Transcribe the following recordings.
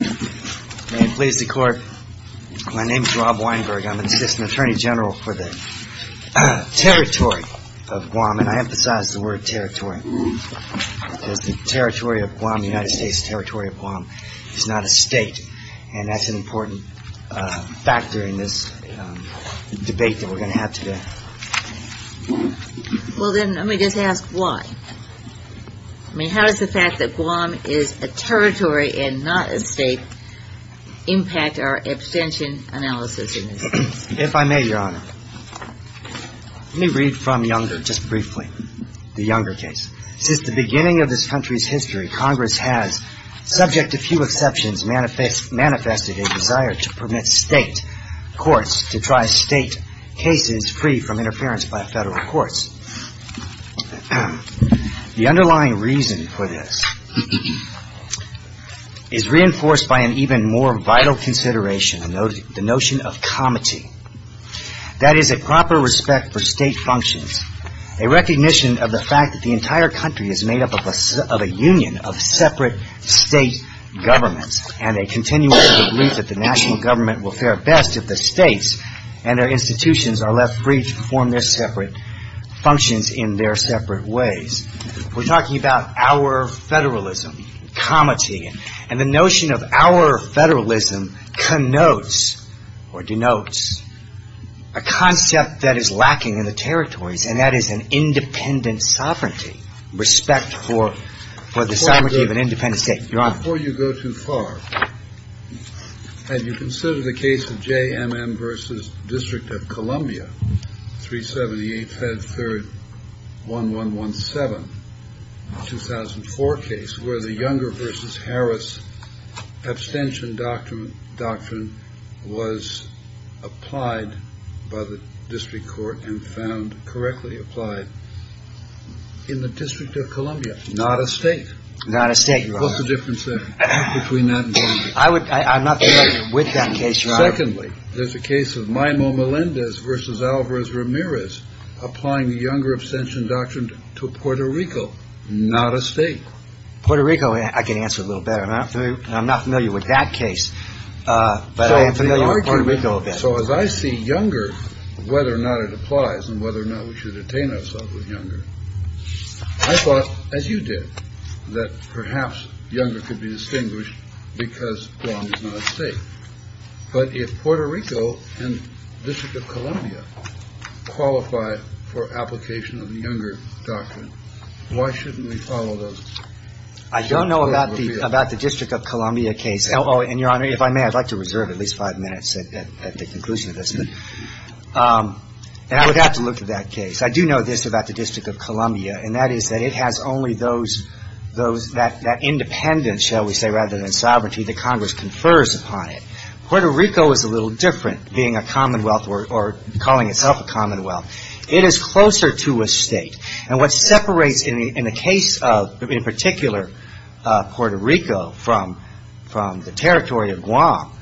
May it please the court, my name is Rob Weinberg, I'm Assistant Attorney General for the Territory of Guam, and I emphasize the word Territory, because the Territory of Guam, the United States Territory of Guam, is not a state, and that's an important factor in this debate that we're going to have today. Well then, let me just ask why. I mean, how does the fact that Guam is a territory and not a state impact our abstention analysis in this case? The underlying reason for this is reinforced by an even more vital consideration, the notion of comity. That is, a proper respect for state functions, a recognition of the fact that the entire country is made up of a union of separate state governments, and a continuation of the belief that the national government will fare best if the states and their institutions are left free to perform their services. We're talking about our federalism, comity, and the notion of our federalism connotes or denotes a concept that is lacking in the territories, and that is an independent sovereignty, respect for the sovereignty of an independent state. Before you go too far, have you considered the case of J.M.M. v. District of Columbia, 378, Fed 3rd, 1117, 2004 case, where the Younger v. Harris abstention doctrine was applied by the district court and found correctly applied in the District of Columbia? Not a state, not a state. What's the difference between that? I would I'm not with that case. Secondly, there's a case of Maimo Melendez versus Alvarez Ramirez applying the Younger abstention doctrine to Puerto Rico. Not a state. Puerto Rico. I can answer a little better. And I'm not familiar with that case, but I am familiar with Puerto Rico. So as I see Younger, whether or not it applies and whether or not we should detain ourselves with Younger, I thought, as you did, that perhaps Younger could be distinguished because Guam is not a state. But if Puerto Rico and District of Columbia qualify for application of the Younger doctrine, why shouldn't we follow those? I don't know about the District of Columbia case. And, Your Honor, if I may, I'd like to reserve at least five minutes at the conclusion of this. And I would have to look at that case. I do know this about the District of Columbia, and that is that it has only those, that independence, shall we say, rather than sovereignty that Congress confers upon it. Puerto Rico is a little different being a commonwealth or calling itself a commonwealth. It is closer to a state. And what separates in the case of, in particular, Puerto Rico from the territory of Guam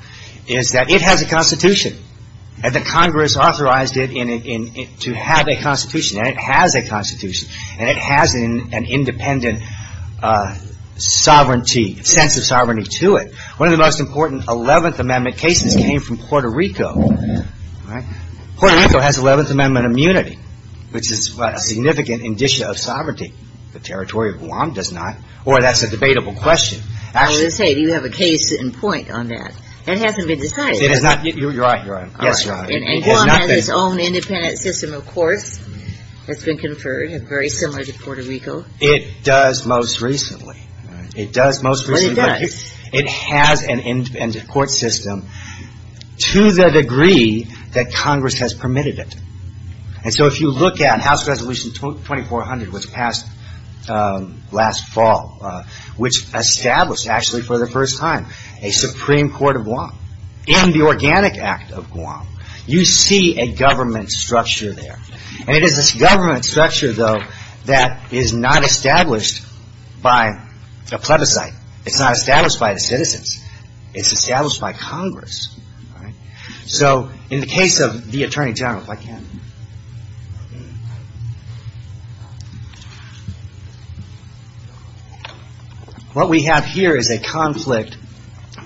is that it has a constitution and that Congress authorized it to have a constitution. And it has a constitution. And it has an independent sovereignty, sense of sovereignty to it. One of the most important Eleventh Amendment cases came from Puerto Rico. Puerto Rico has Eleventh Amendment immunity, which is a significant indicia of sovereignty. The territory of Guam does not. Or that's a debatable question. I was going to say, do you have a case in point on that? That hasn't been decided. It has not. You're right. You're right. Yes, Your Honor. And Guam has its own independent system, of course, that's been conferred, very similar to Puerto Rico. It does most recently. It does most recently. It has an independent court system to the degree that Congress has permitted it. And so if you look at House Resolution 2400, which passed last fall, which established actually for the first time a Supreme Court of Guam in the Organic Act of Guam, you see a government structure there. And it is this government structure, though, that is not established by a plebiscite. It's not established by the citizens. It's established by Congress. So in the case of the Attorney General, if I can. What we have here is a conflict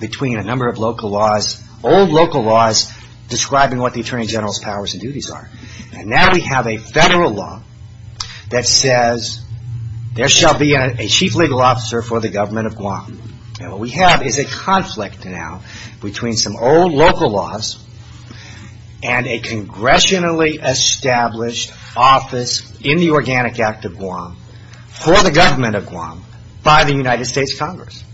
between a number of local laws, old local laws, describing what the Attorney General's powers and duties are. And now we have a federal law that says there shall be a chief legal officer for the government of Guam. And what we have is a conflict now between some old local laws and a congressionally established office in the Organic Act of Guam for the government of Guam by the United States Congress.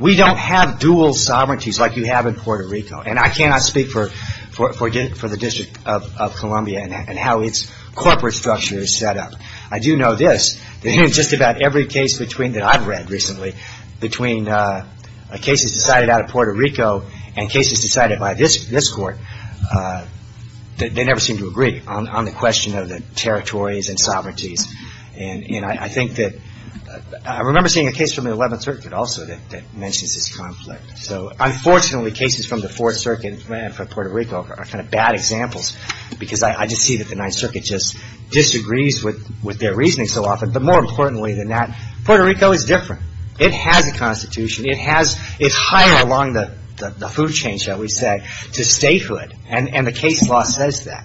We don't have dual sovereignties like you have in Puerto Rico. And I cannot speak for the District of Columbia and how its corporate structure is set up. I do know this, that in just about every case that I've read recently, between cases decided out of Puerto Rico and cases decided by this court, they never seem to agree on the question of the territories and sovereignties. And I think that I remember seeing a case from the 11th Circuit also that mentions this conflict. So unfortunately, cases from the 4th Circuit for Puerto Rico are kind of bad examples because I just see that the 9th Circuit just disagrees with their reasoning so often. But more importantly than that, Puerto Rico is different. It has a constitution. It's higher along the food chain, shall we say, to statehood. And the case law says that.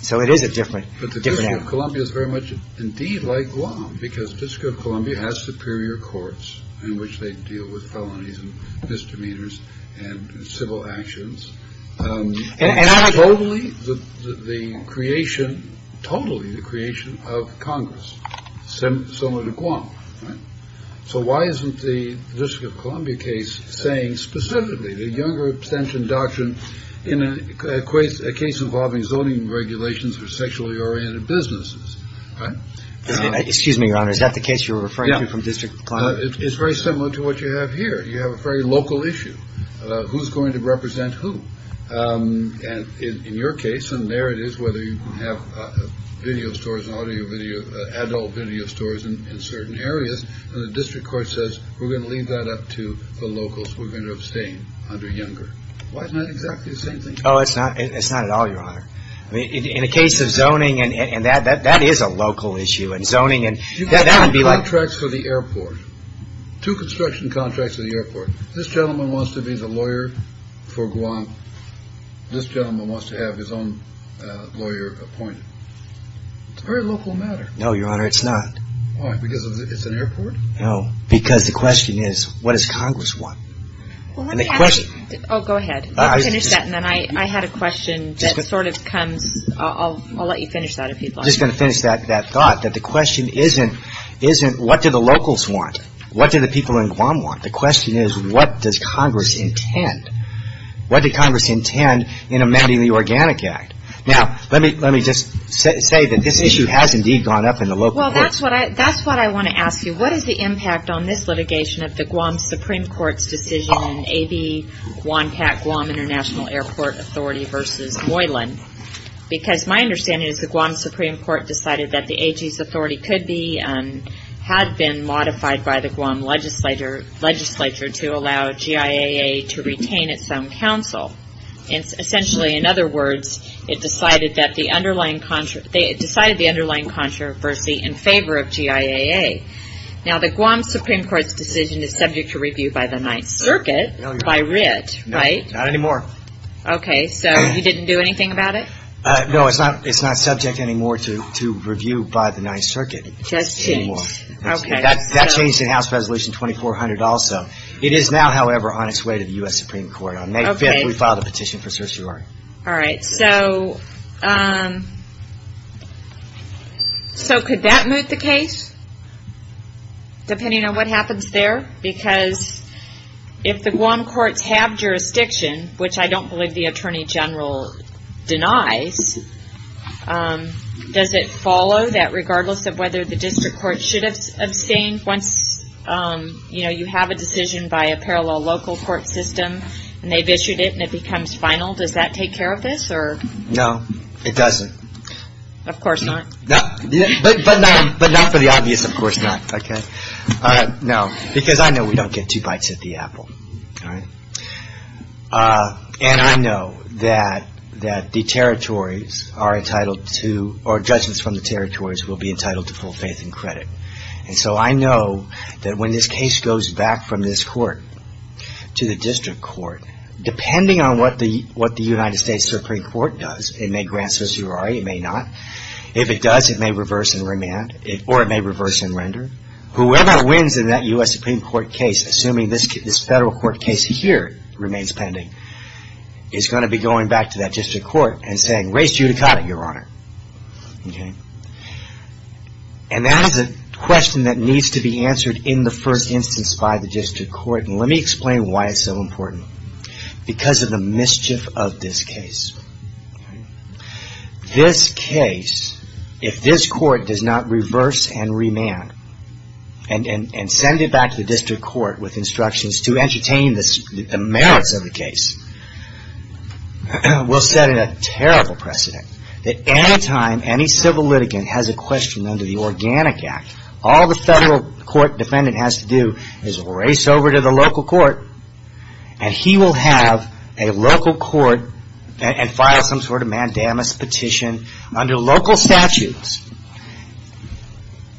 So it is a different area. Columbia is very much indeed like Guam, because District of Columbia has superior courts in which they deal with felonies and misdemeanors and civil actions. And I totally the creation, totally the creation of Congress. So similar to Guam. So why isn't the District of Columbia case saying specifically the younger extension doctrine in a case involving zoning regulations or sexually oriented business? Right? Excuse me, Your Honor. Is that the case you're referring to from District of Columbia? It's very similar to what you have here. You have a very local issue. Who's going to represent who? And in your case, and there it is, whether you have video stores, audio, video, adult video stores in certain areas. And the district court says we're going to leave that up to the locals. We're going to abstain under younger. Why isn't that exactly the same thing? Oh, it's not. It's not at all, Your Honor. In a case of zoning, and that is a local issue, and zoning, and that would be like. Two construction contracts for the airport. This gentleman wants to be the lawyer for Guam. This gentleman wants to have his own lawyer appointed. It's a very local matter. No, Your Honor, it's not. Why? Because it's an airport? No, because the question is, what does Congress want? Well, let me ask you. Oh, go ahead. Let's finish that, and then I had a question that sort of comes. I'll let you finish that if you'd like. I'm just going to finish that thought, that the question isn't, what do the locals want? What do the people in Guam want? The question is, what does Congress intend? What does Congress intend in amending the Organic Act? Now, let me just say that this issue has indeed gone up in the local court. Well, that's what I want to ask you. What is the impact on this litigation of the Guam Supreme Court's decision in A.V. Guam-Pac-Guam International Airport Authority v. Moylan? Because my understanding is the Guam Supreme Court decided that the AG's authority could be and had been modified by the Guam legislature to allow GIAA to retain its own counsel. Essentially, in other words, it decided the underlying controversy in favor of GIAA. Now, the Guam Supreme Court's decision is subject to review by the Ninth Circuit, by writ, right? Not anymore. Okay, so you didn't do anything about it? No, it's not subject anymore to review by the Ninth Circuit. Just changed. That changed in House Resolution 2400 also. It is now, however, on its way to the U.S. Supreme Court. On May 5th, we filed a petition for certiorari. All right, so could that move the case, depending on what happens there? Because if the Guam courts have jurisdiction, which I don't believe the Attorney General denies, does it follow that regardless of whether the district court should abstain once you have a decision by a parallel local court system and they've issued it and it becomes final, does that take care of this? No, it doesn't. Of course not. But not for the obvious, of course not, okay? No, because I know we don't get two bites at the apple, all right? And I know that the territories are entitled to, or judges from the territories will be entitled to full faith and credit. And so I know that when this case goes back from this court to the district court, depending on what the United States Supreme Court does, it may grant certiorari, it may not. If it does, it may reverse and remand, or it may reverse and render. Whoever wins in that U.S. Supreme Court case, assuming this federal court case here remains pending, is going to be going back to that district court and saying, raise judicata, Your Honor, okay? And that is a question that needs to be answered in the first instance by the district court. And let me explain why it's so important. Because of the mischief of this case. This case, if this court does not reverse and remand and send it back to the district court with instructions to entertain the merits of the case, will set a terrible precedent that any time any civil litigant has a question under the Organic Act, all the federal court defendant has to do is race over to the local court and he will have a local court and file some sort of mandamus petition under local statutes.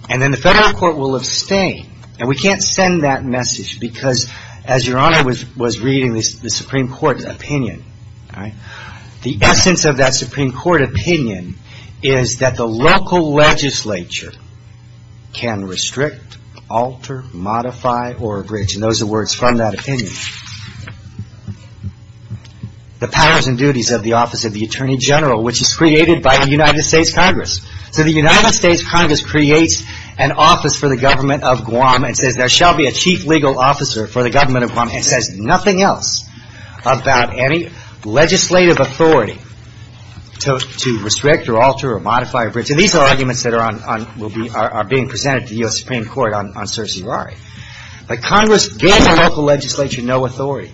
And then the federal court will abstain. And we can't send that message because, as Your Honor was reading the Supreme Court's opinion, the essence of that Supreme Court opinion is that the local legislature can restrict, alter, modify, or abridge. And those are words from that opinion. The powers and duties of the Office of the Attorney General, which is created by the United States Congress. So the United States Congress creates an office for the government of Guam and says there shall be a chief legal officer for the government of Guam and says nothing else about any legislative authority to restrict or alter or modify or abridge. And these are arguments that are being presented to the U.S. Supreme Court on certiorari. But Congress gives the local legislature no authority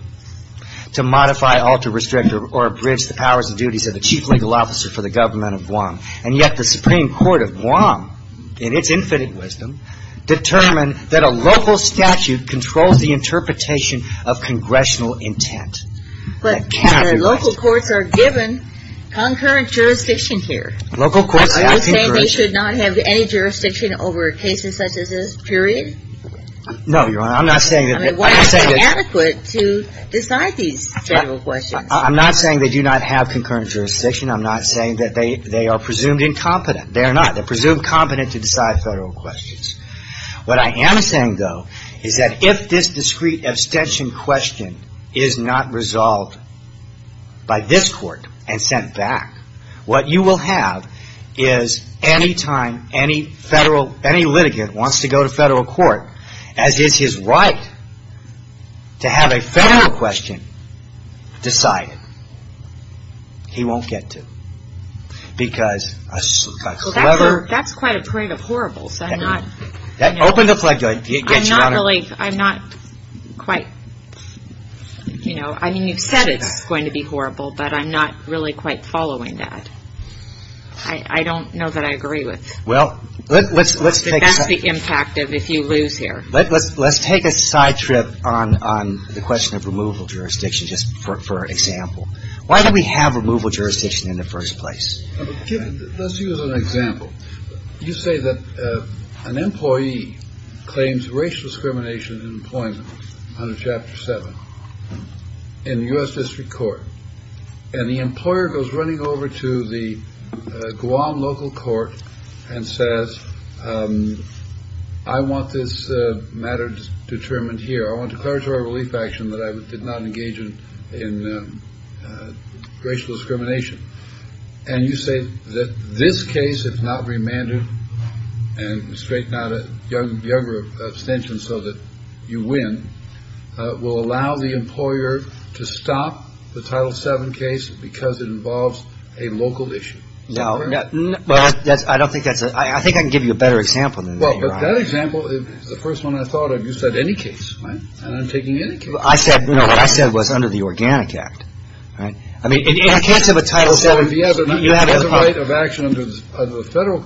to modify, alter, restrict, or abridge the powers and duties of the chief legal officer for the government of Guam. And yet the Supreme Court of Guam, in its infinite wisdom, determined that a local statute controls the interpretation of congressional intent. That cannot be right. But, Your Honor, local courts are given concurrent jurisdiction here. Local courts have concurrent jurisdiction. Are you saying they should not have any jurisdiction over a case such as this, period? No, Your Honor. I'm not saying that. I mean, why is it inadequate to decide these federal questions? I'm not saying they do not have concurrent jurisdiction. I'm not saying that they are presumed incompetent. They are not. They're presumed competent to decide federal questions. What I am saying, though, is that if this discrete abstention question is not resolved by this court and sent back, what you will have is any time any federal, any litigant wants to go to federal court, as is his right to have a federal question decided, he won't get to. Because a clever... Well, that's quite a parade of horribles. Open the flag to it. I'm not really, I'm not quite, you know, I mean, you've said it's going to be horrible, but I'm not really quite following that. I don't know that I agree with... Well, let's take... What's the impact if you lose here? Let's take a side trip on the question of removal jurisdiction, just for example. Why do we have removal jurisdiction in the first place? Let's use an example. You say that an employee claims racial discrimination in employment under Chapter 7 in the U.S. District Court, and the employer goes running over to the Guam local court and says, I want this matter determined here. I want declaratory relief action that I did not engage in racial discrimination. And you say that this case, if not remanded and straight, not a young, younger abstention so that you win, will allow the employer to stop the Title 7 case because it involves a local issue. No. Well, I don't think that's a... I think I can give you a better example than that. Well, but that example is the first one I thought of. You said any case, right? And I'm taking any case. I said, you know, what I said was under the Organic Act, right? I mean, if you can't have a Title 7... So if you have a right of action under the federal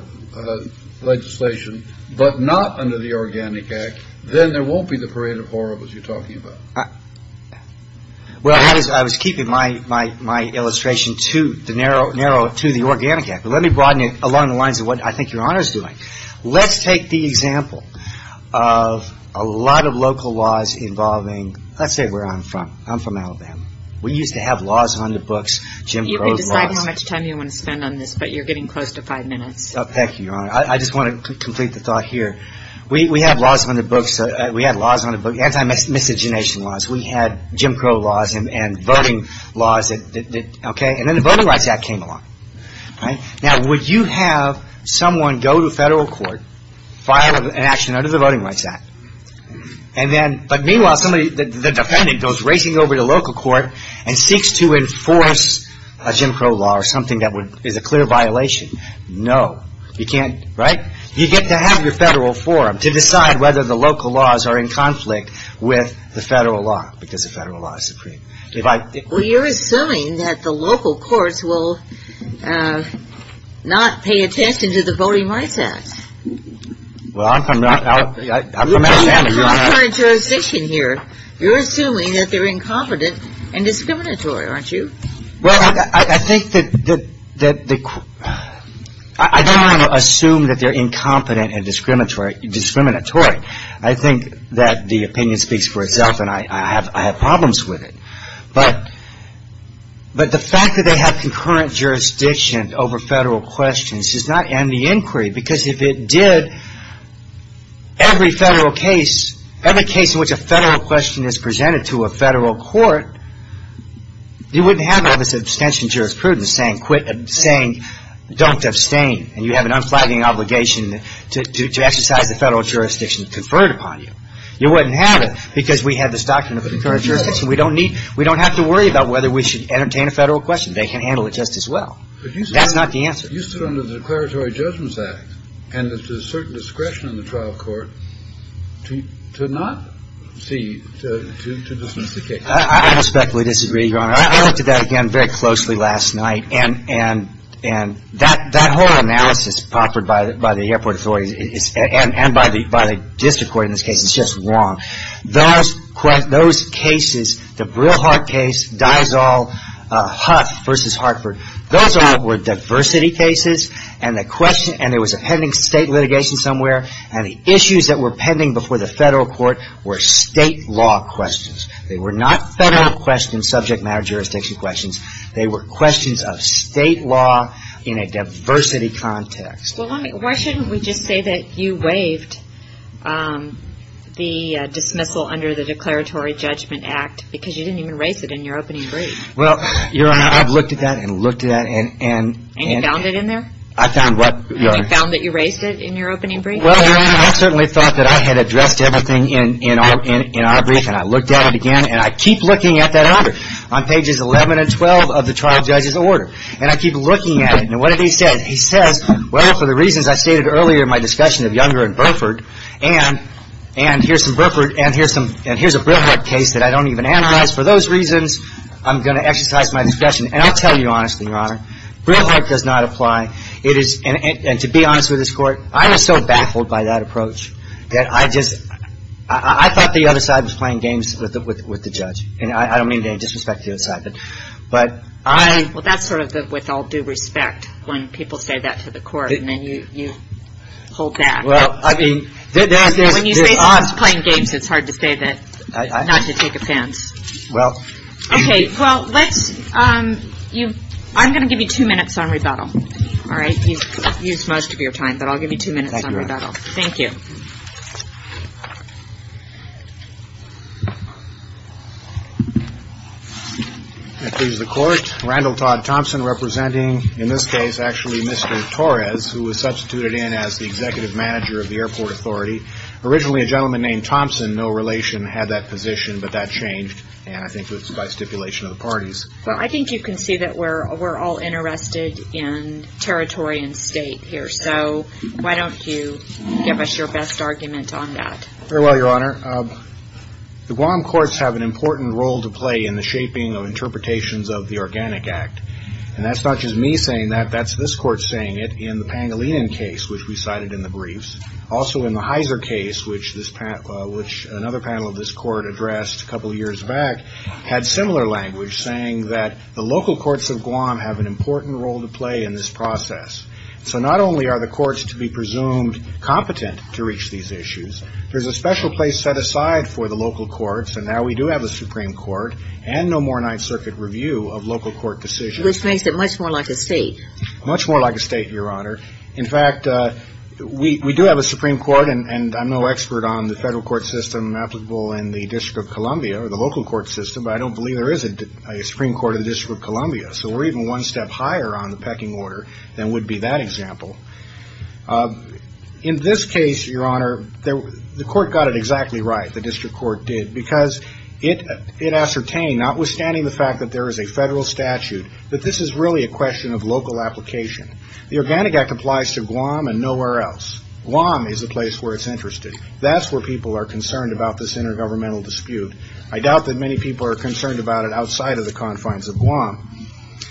legislation but not under the Organic Act, then there won't be the parade of horribles you're talking about. Well, I was keeping my illustration too narrow to the Organic Act. But let me broaden it along the lines of what I think Your Honor is doing. Let's take the example of a lot of local laws involving, let's say where I'm from. I'm from Alabama. We used to have laws on the books, Jim Crow laws. You can decide how much time you want to spend on this, but you're getting close to five minutes. Thank you, Your Honor. I just want to complete the thought here. We had laws on the books, anti-miscegenation laws. We had Jim Crow laws and voting laws. And then the Voting Rights Act came along. Now, would you have someone go to federal court, file an action under the Voting Rights Act, but meanwhile the defendant goes racing over to local court and seeks to enforce a Jim Crow law or something that is a clear violation? No. You can't, right? You get to have your federal forum to decide whether the local laws are in conflict with the federal law because the federal law is supreme. Well, you're assuming that the local courts will not pay attention to the Voting Rights Act. Well, I'm from Alabama. You're assuming that they're incompetent and discriminatory, aren't you? Well, I think that the – I don't want to assume that they're incompetent and discriminatory. I think that the opinion speaks for itself, and I have problems with it. But the fact that they have concurrent jurisdiction over federal questions does not end the inquiry because if it did, every federal case, every case in which a federal question is presented to a federal court, you wouldn't have all this abstention jurisprudence saying quit – saying don't abstain and you have an unflagging obligation to exercise the federal jurisdiction conferred upon you. You wouldn't have it because we have this doctrine of concurrent jurisdiction. We don't need – we don't have to worry about whether we should entertain a federal question. They can handle it just as well. That's not the answer. You stood under the Declaratory Judgments Act, and there's a certain discretion in the trial court to not see – to dismiss the case. I respectfully disagree, Your Honor. I looked at that again very closely last night, and that whole analysis proffered by the airport authorities and by the district court in this case is just wrong. Those cases, the Brilhart case, Diasol, Huff v. Hartford, those all were diversity cases, and the question – and there was a pending state litigation somewhere, and the issues that were pending before the federal court were state law questions. They were not federal questions, subject matter jurisdiction questions. They were questions of state law in a diversity context. Well, why shouldn't we just say that you waived the dismissal under the Declaratory Judgment Act because you didn't even raise it in your opening brief? Well, Your Honor, I've looked at that and looked at that and – And you found it in there? I found what, Your Honor? You found that you raised it in your opening brief? Well, Your Honor, I certainly thought that I had addressed everything in our brief, and I looked at it again, and I keep looking at that order on pages 11 and 12 of the trial judge's order. And I keep looking at it, and what did he say? He says, well, for the reasons I stated earlier in my discussion of Younger and Burford, and here's some Burford, and here's a Brilhart case that I don't even analyze. For those reasons, I'm going to exercise my discretion. And I'll tell you honestly, Your Honor, Brilhart does not apply. And to be honest with this Court, I was so baffled by that approach that I just – I thought the other side was playing games with the judge, and I don't mean to disrespect the other side, but I – Well, that's sort of with all due respect when people say that to the Court, and then you hold back. Well, I mean, there's – When you say someone's playing games, it's hard to say that not to take offense. Well – Okay, well, let's – I'm going to give you two minutes on rebuttal. All right, you've used most of your time, but I'll give you two minutes on rebuttal. Thank you, Your Honor. Thank you. And please, the Court. Randall Todd Thompson representing, in this case, actually Mr. Torres, who was substituted in as the executive manager of the airport authority. Originally, a gentleman named Thompson, no relation, had that position, but that changed, and I think it was by stipulation of the parties. Well, I think you can see that we're all interested in territory and state here, so why don't you give us your best argument on that? Very well, Your Honor. The Guam courts have an important role to play in the shaping of interpretations of the Organic Act, and that's not just me saying that. That's this Court saying it in the Pangolinan case, which we cited in the briefs. Also in the Heiser case, which another panel of this Court addressed a couple of years back, had similar language saying that the local courts of Guam have an important role to play in this process. So not only are the courts to be presumed competent to reach these issues, there's a special place set aside for the local courts, and now we do have a Supreme Court and no more Ninth Circuit review of local court decisions. Which makes it much more like a state. Much more like a state, Your Honor. In fact, we do have a Supreme Court, and I'm no expert on the federal court system applicable in the District of Columbia or the local court system, but I don't believe there is a Supreme Court of the District of Columbia, so we're even one step higher on the pecking order than would be that example. In this case, Your Honor, the Court got it exactly right, the District Court did, because it ascertained, notwithstanding the fact that there is a federal statute, that this is really a question of local application. The Organic Act applies to Guam and nowhere else. Guam is the place where it's interested. That's where people are concerned about this intergovernmental dispute. I doubt that many people are concerned about it outside of the confines of Guam.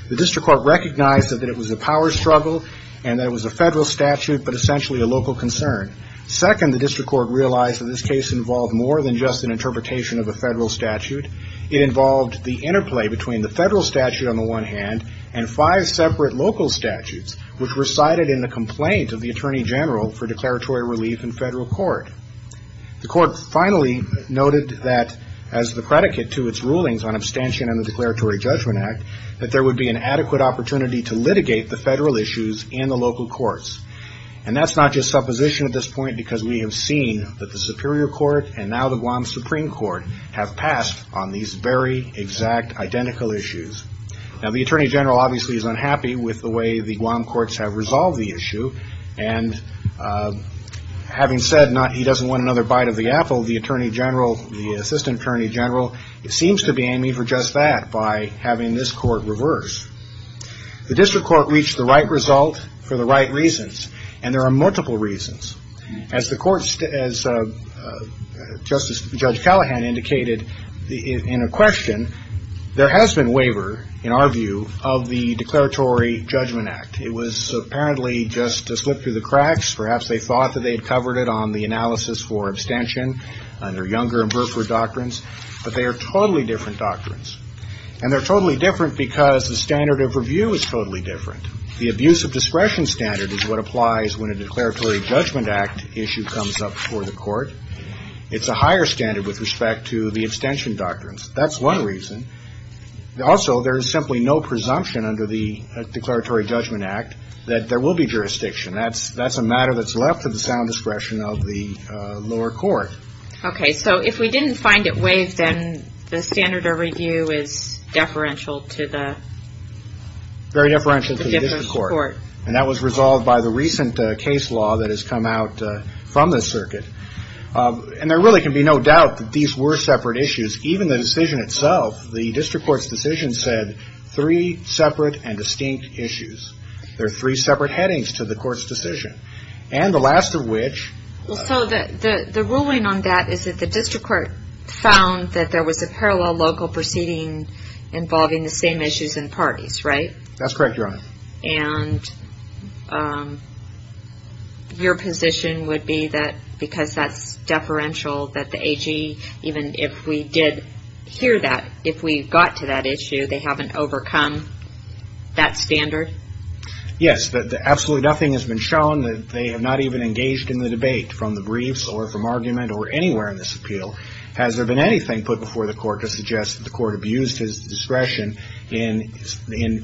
The District Court recognized that it was a power struggle and that it was a federal statute, but essentially a local concern. Second, the District Court realized that this case involved more than just an interpretation of a federal statute. It involved the interplay between the federal statute on the one hand and five separate local statutes, which recited in the complaint of the Attorney General for declaratory relief in federal court. The court finally noted that, as the predicate to its rulings on abstention in the Declaratory Judgment Act, that there would be an adequate opportunity to litigate the federal issues in the local courts. And that's not just supposition at this point, because we have seen that the Superior Court and now the Guam Supreme Court have passed on these very exact identical issues. Now, the Attorney General obviously is unhappy with the way the Guam courts have resolved the issue. And having said he doesn't want another bite of the apple, the Attorney General, the Assistant Attorney General, seems to be aiming for just that by having this court reverse. The District Court reached the right result for the right reasons. And there are multiple reasons. As the court – as Justice – Judge Callahan indicated in a question, there has been waiver, in our view, of the Declaratory Judgment Act. It was apparently just a slip through the cracks. Perhaps they thought that they had covered it on the analysis for abstention under Younger and Burford doctrines. But they are totally different doctrines. And they're totally different because the standard of review is totally different. The abuse of discretion standard is what applies when a Declaratory Judgment Act issue comes up for the court. It's a higher standard with respect to the abstention doctrines. That's one reason. Also, there is simply no presumption under the Declaratory Judgment Act that there will be jurisdiction. That's a matter that's left to the sound discretion of the lower court. Okay, so if we didn't find it waived, then the standard of review is deferential to the – Very deferential to the District Court. And that was resolved by the recent case law that has come out from the circuit. And there really can be no doubt that these were separate issues. Even the decision itself, the District Court's decision, said three separate and distinct issues. There are three separate headings to the court's decision. And the last of which – So the ruling on that is that the District Court found that there was a parallel local proceeding involving the same issues in parties, right? That's correct, Your Honor. And your position would be that because that's deferential that the AG, even if we did hear that, if we got to that issue, they haven't overcome that standard? Yes. Absolutely nothing has been shown that they have not even engaged in the debate from the briefs or from argument or anywhere in this appeal. Has there been anything put before the court to suggest that the court abused his discretion in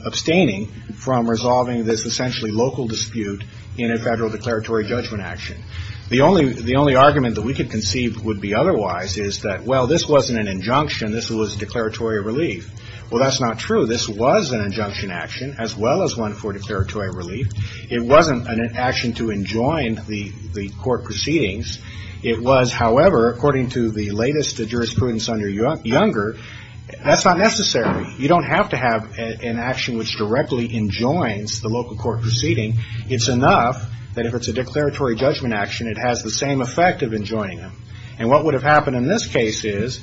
abstaining from resolving this essentially local dispute in a federal declaratory judgment action? The only argument that we could conceive would be otherwise is that, well, this wasn't an injunction. This was a declaratory relief. Well, that's not true. This was an injunction action as well as one for declaratory relief. It wasn't an action to enjoin the court proceedings. It was, however, according to the latest jurisprudence under Younger, that's not necessary. You don't have to have an action which directly enjoins the local court proceeding. It's enough that if it's a declaratory judgment action, it has the same effect of enjoining them. And what would have happened in this case is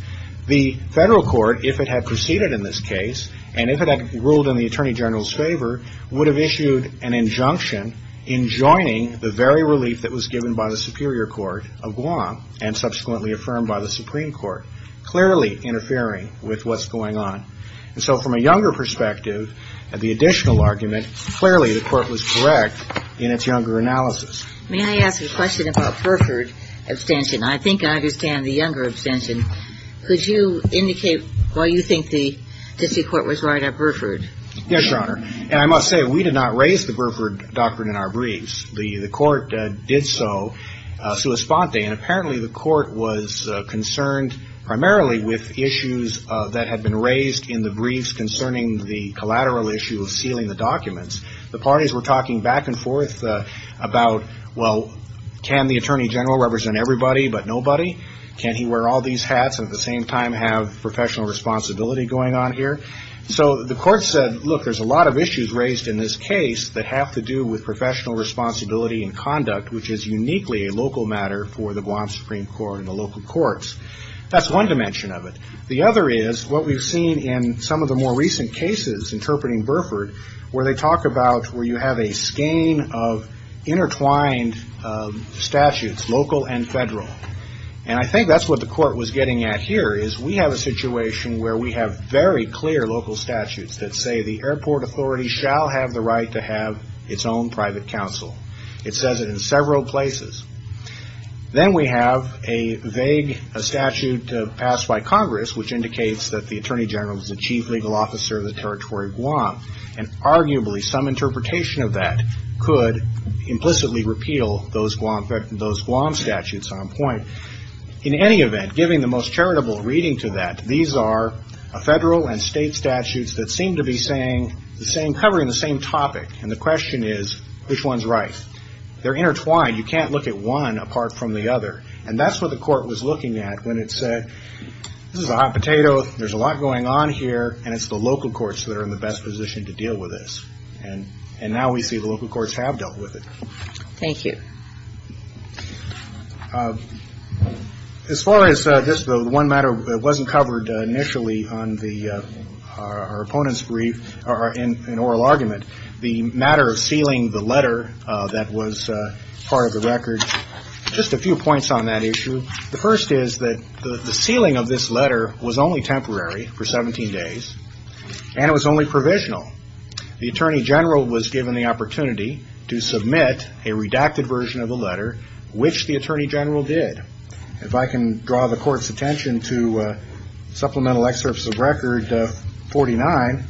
the federal court, if it had proceeded in this case, and if it had ruled in the Attorney General's favor, would have issued an injunction enjoining the very relief that was given by the Superior Court of Guam and subsequently affirmed by the Supreme Court, clearly interfering with what's going on. And so from a Younger perspective, the additional argument, clearly the court was correct in its Younger analysis. May I ask a question about Burford abstention? I think I understand the Younger abstention. Could you indicate why you think the district court was right at Burford? Yes, Your Honor. And I must say, we did not raise the Burford doctrine in our briefs. The court did so sua sponte, and apparently the court was concerned primarily with issues that had been raised in the briefs concerning the collateral issue of sealing the documents. The parties were talking back and forth about, well, can the Attorney General represent everybody but nobody? Can he wear all these hats and at the same time have professional responsibility going on here? So the court said, look, there's a lot of issues raised in this case that have to do with professional responsibility and conduct, which is uniquely a local matter for the Guam Supreme Court and the local courts. That's one dimension of it. The other is what we've seen in some of the more recent cases interpreting Burford, where they talk about where you have a skein of intertwined statutes, local and federal. And I think that's what the court was getting at here, is we have a situation where we have very clear local statutes that say the airport authority shall have the right to have its own private counsel. It says it in several places. Then we have a vague statute passed by Congress, which indicates that the Attorney General is the chief legal officer of the territory of Guam, and arguably some interpretation of that could implicitly repeal those Guam statutes on point. In any event, giving the most charitable reading to that, these are federal and state statutes that seem to be covering the same topic, and the question is, which one's right? They're intertwined. You can't look at one apart from the other. And that's what the court was looking at when it said, this is a hot potato. There's a lot going on here, and it's the local courts that are in the best position to deal with this. And now we see the local courts have dealt with it. Thank you. As far as this, the one matter that wasn't covered initially on our opponent's brief or in oral argument, the matter of sealing the letter that was part of the record, just a few points on that issue. The first is that the sealing of this letter was only temporary for 17 days, and it was only provisional. The Attorney General was given the opportunity to submit a redacted version of the letter, which the Attorney General did. If I can draw the Court's attention to Supplemental Excerpts of Record 49,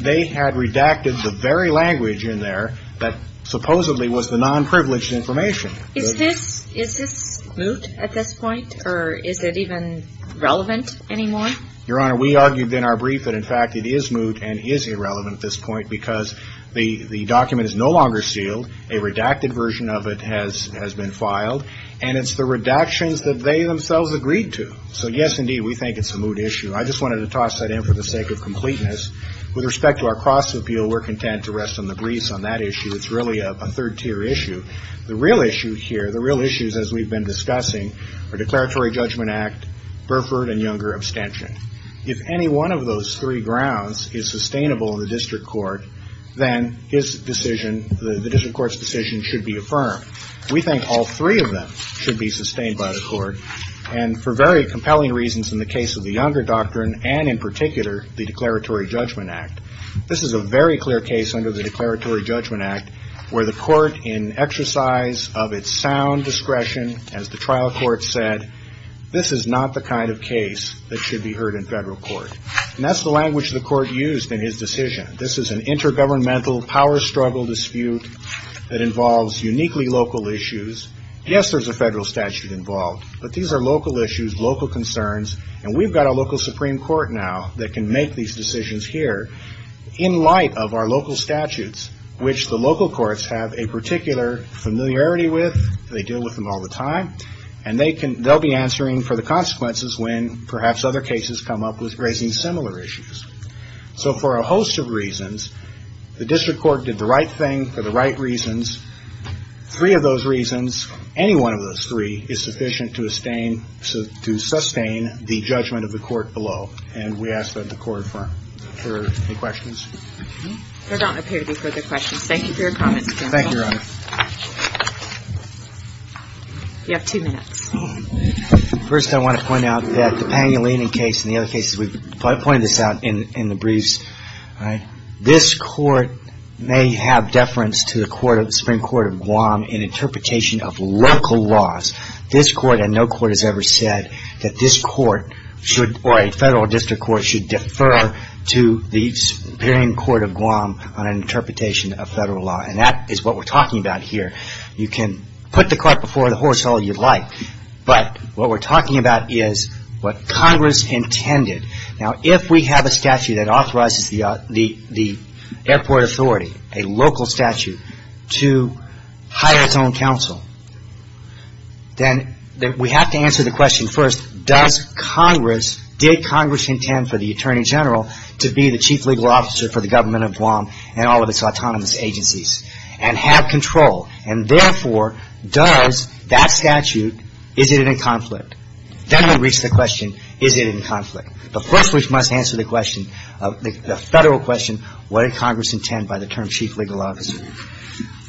they had redacted the very language in there that supposedly was the non-privileged information. Is this moot at this point, or is it even relevant anymore? Your Honor, we argued in our brief that, in fact, it is moot and is irrelevant at this point because the document is no longer sealed, a redacted version of it has been filed, and it's the redactions that they themselves agreed to. So, yes, indeed, we think it's a moot issue. I just wanted to toss that in for the sake of completeness. With respect to our cross-appeal, we're content to rest on the briefs on that issue. It's really a third-tier issue. The real issue here, the real issues, as we've been discussing, are Declaratory Judgment Act, Burford, and Younger abstention. If any one of those three grounds is sustainable in the district court, then the district court's decision should be affirmed. We think all three of them should be sustained by the court, and for very compelling reasons in the case of the Younger doctrine, and in particular the Declaratory Judgment Act. This is a very clear case under the Declaratory Judgment Act where the court, in exercise of its sound discretion, as the trial court said, this is not the kind of case that should be heard in federal court. And that's the language the court used in his decision. This is an intergovernmental power struggle dispute that involves uniquely local issues. Yes, there's a federal statute involved, but these are local issues, local concerns, and we've got a local Supreme Court now that can make these decisions here in light of our local statutes, which the local courts have a particular familiarity with. They deal with them all the time, and they'll be answering for the consequences when perhaps other cases come up with raising similar issues. So for a host of reasons, the district court did the right thing for the right reasons. Three of those reasons, any one of those three, is sufficient to sustain the judgment of the court below, and we ask that the court affirm. Are there any questions? There don't appear to be further questions. Thank you for your comments, counsel. Thank you, Your Honor. You have two minutes. First, I want to point out that the Pangolini case and the other cases we've pointed this out in the briefs, this court may have deference to the Supreme Court of Guam in interpretation of local laws. This court and no court has ever said that this court or a federal district court should defer to the Supreme Court of Guam on an interpretation of federal law, and that is what we're talking about here. You can put the court before the horse all you'd like, but what we're talking about is what Congress intended. Now, if we have a statute that authorizes the airport authority, a local statute, to hire its own counsel, then we have to answer the question first, did Congress intend for the Attorney General to be the chief legal officer for the government of Guam and all of its autonomous agencies, and have control, and therefore, does that statute, is it in conflict? Then we reach the question, is it in conflict? But first we must answer the question, the federal question, what did Congress intend by the term chief legal officer?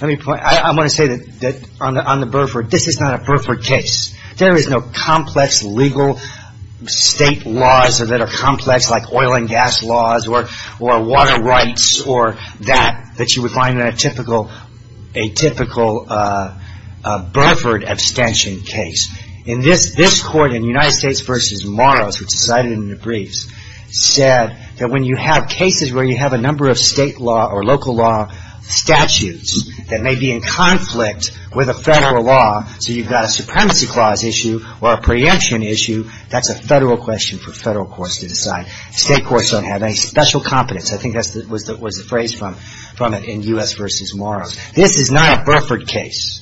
Let me point out, I want to say that on the Burford, this is not a Burford case. There is no complex legal state laws that are complex, like oil and gas laws or water rights or that, that you would find in a typical Burford abstention case. In this court, in United States v. Morris, which is cited in the briefs, said that when you have cases where you have a number of state law or local law statutes that may be in conflict with a federal law, so you've got a supremacy clause issue or a preemption issue, that's a federal question for federal courts to decide. State courts don't have any special competence. I think that was the phrase from it in U.S. v. Morris. This is not a Burford case.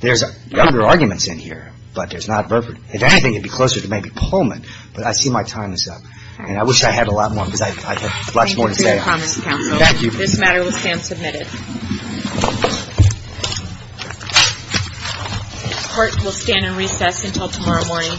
There's other arguments in here, but there's not Burford. If anything, it would be closer to maybe Pullman, but I see my time is up, and I wish I had a lot more because I have much more to say. Thank you. This matter will stand submitted. The court will stand in recess until tomorrow morning.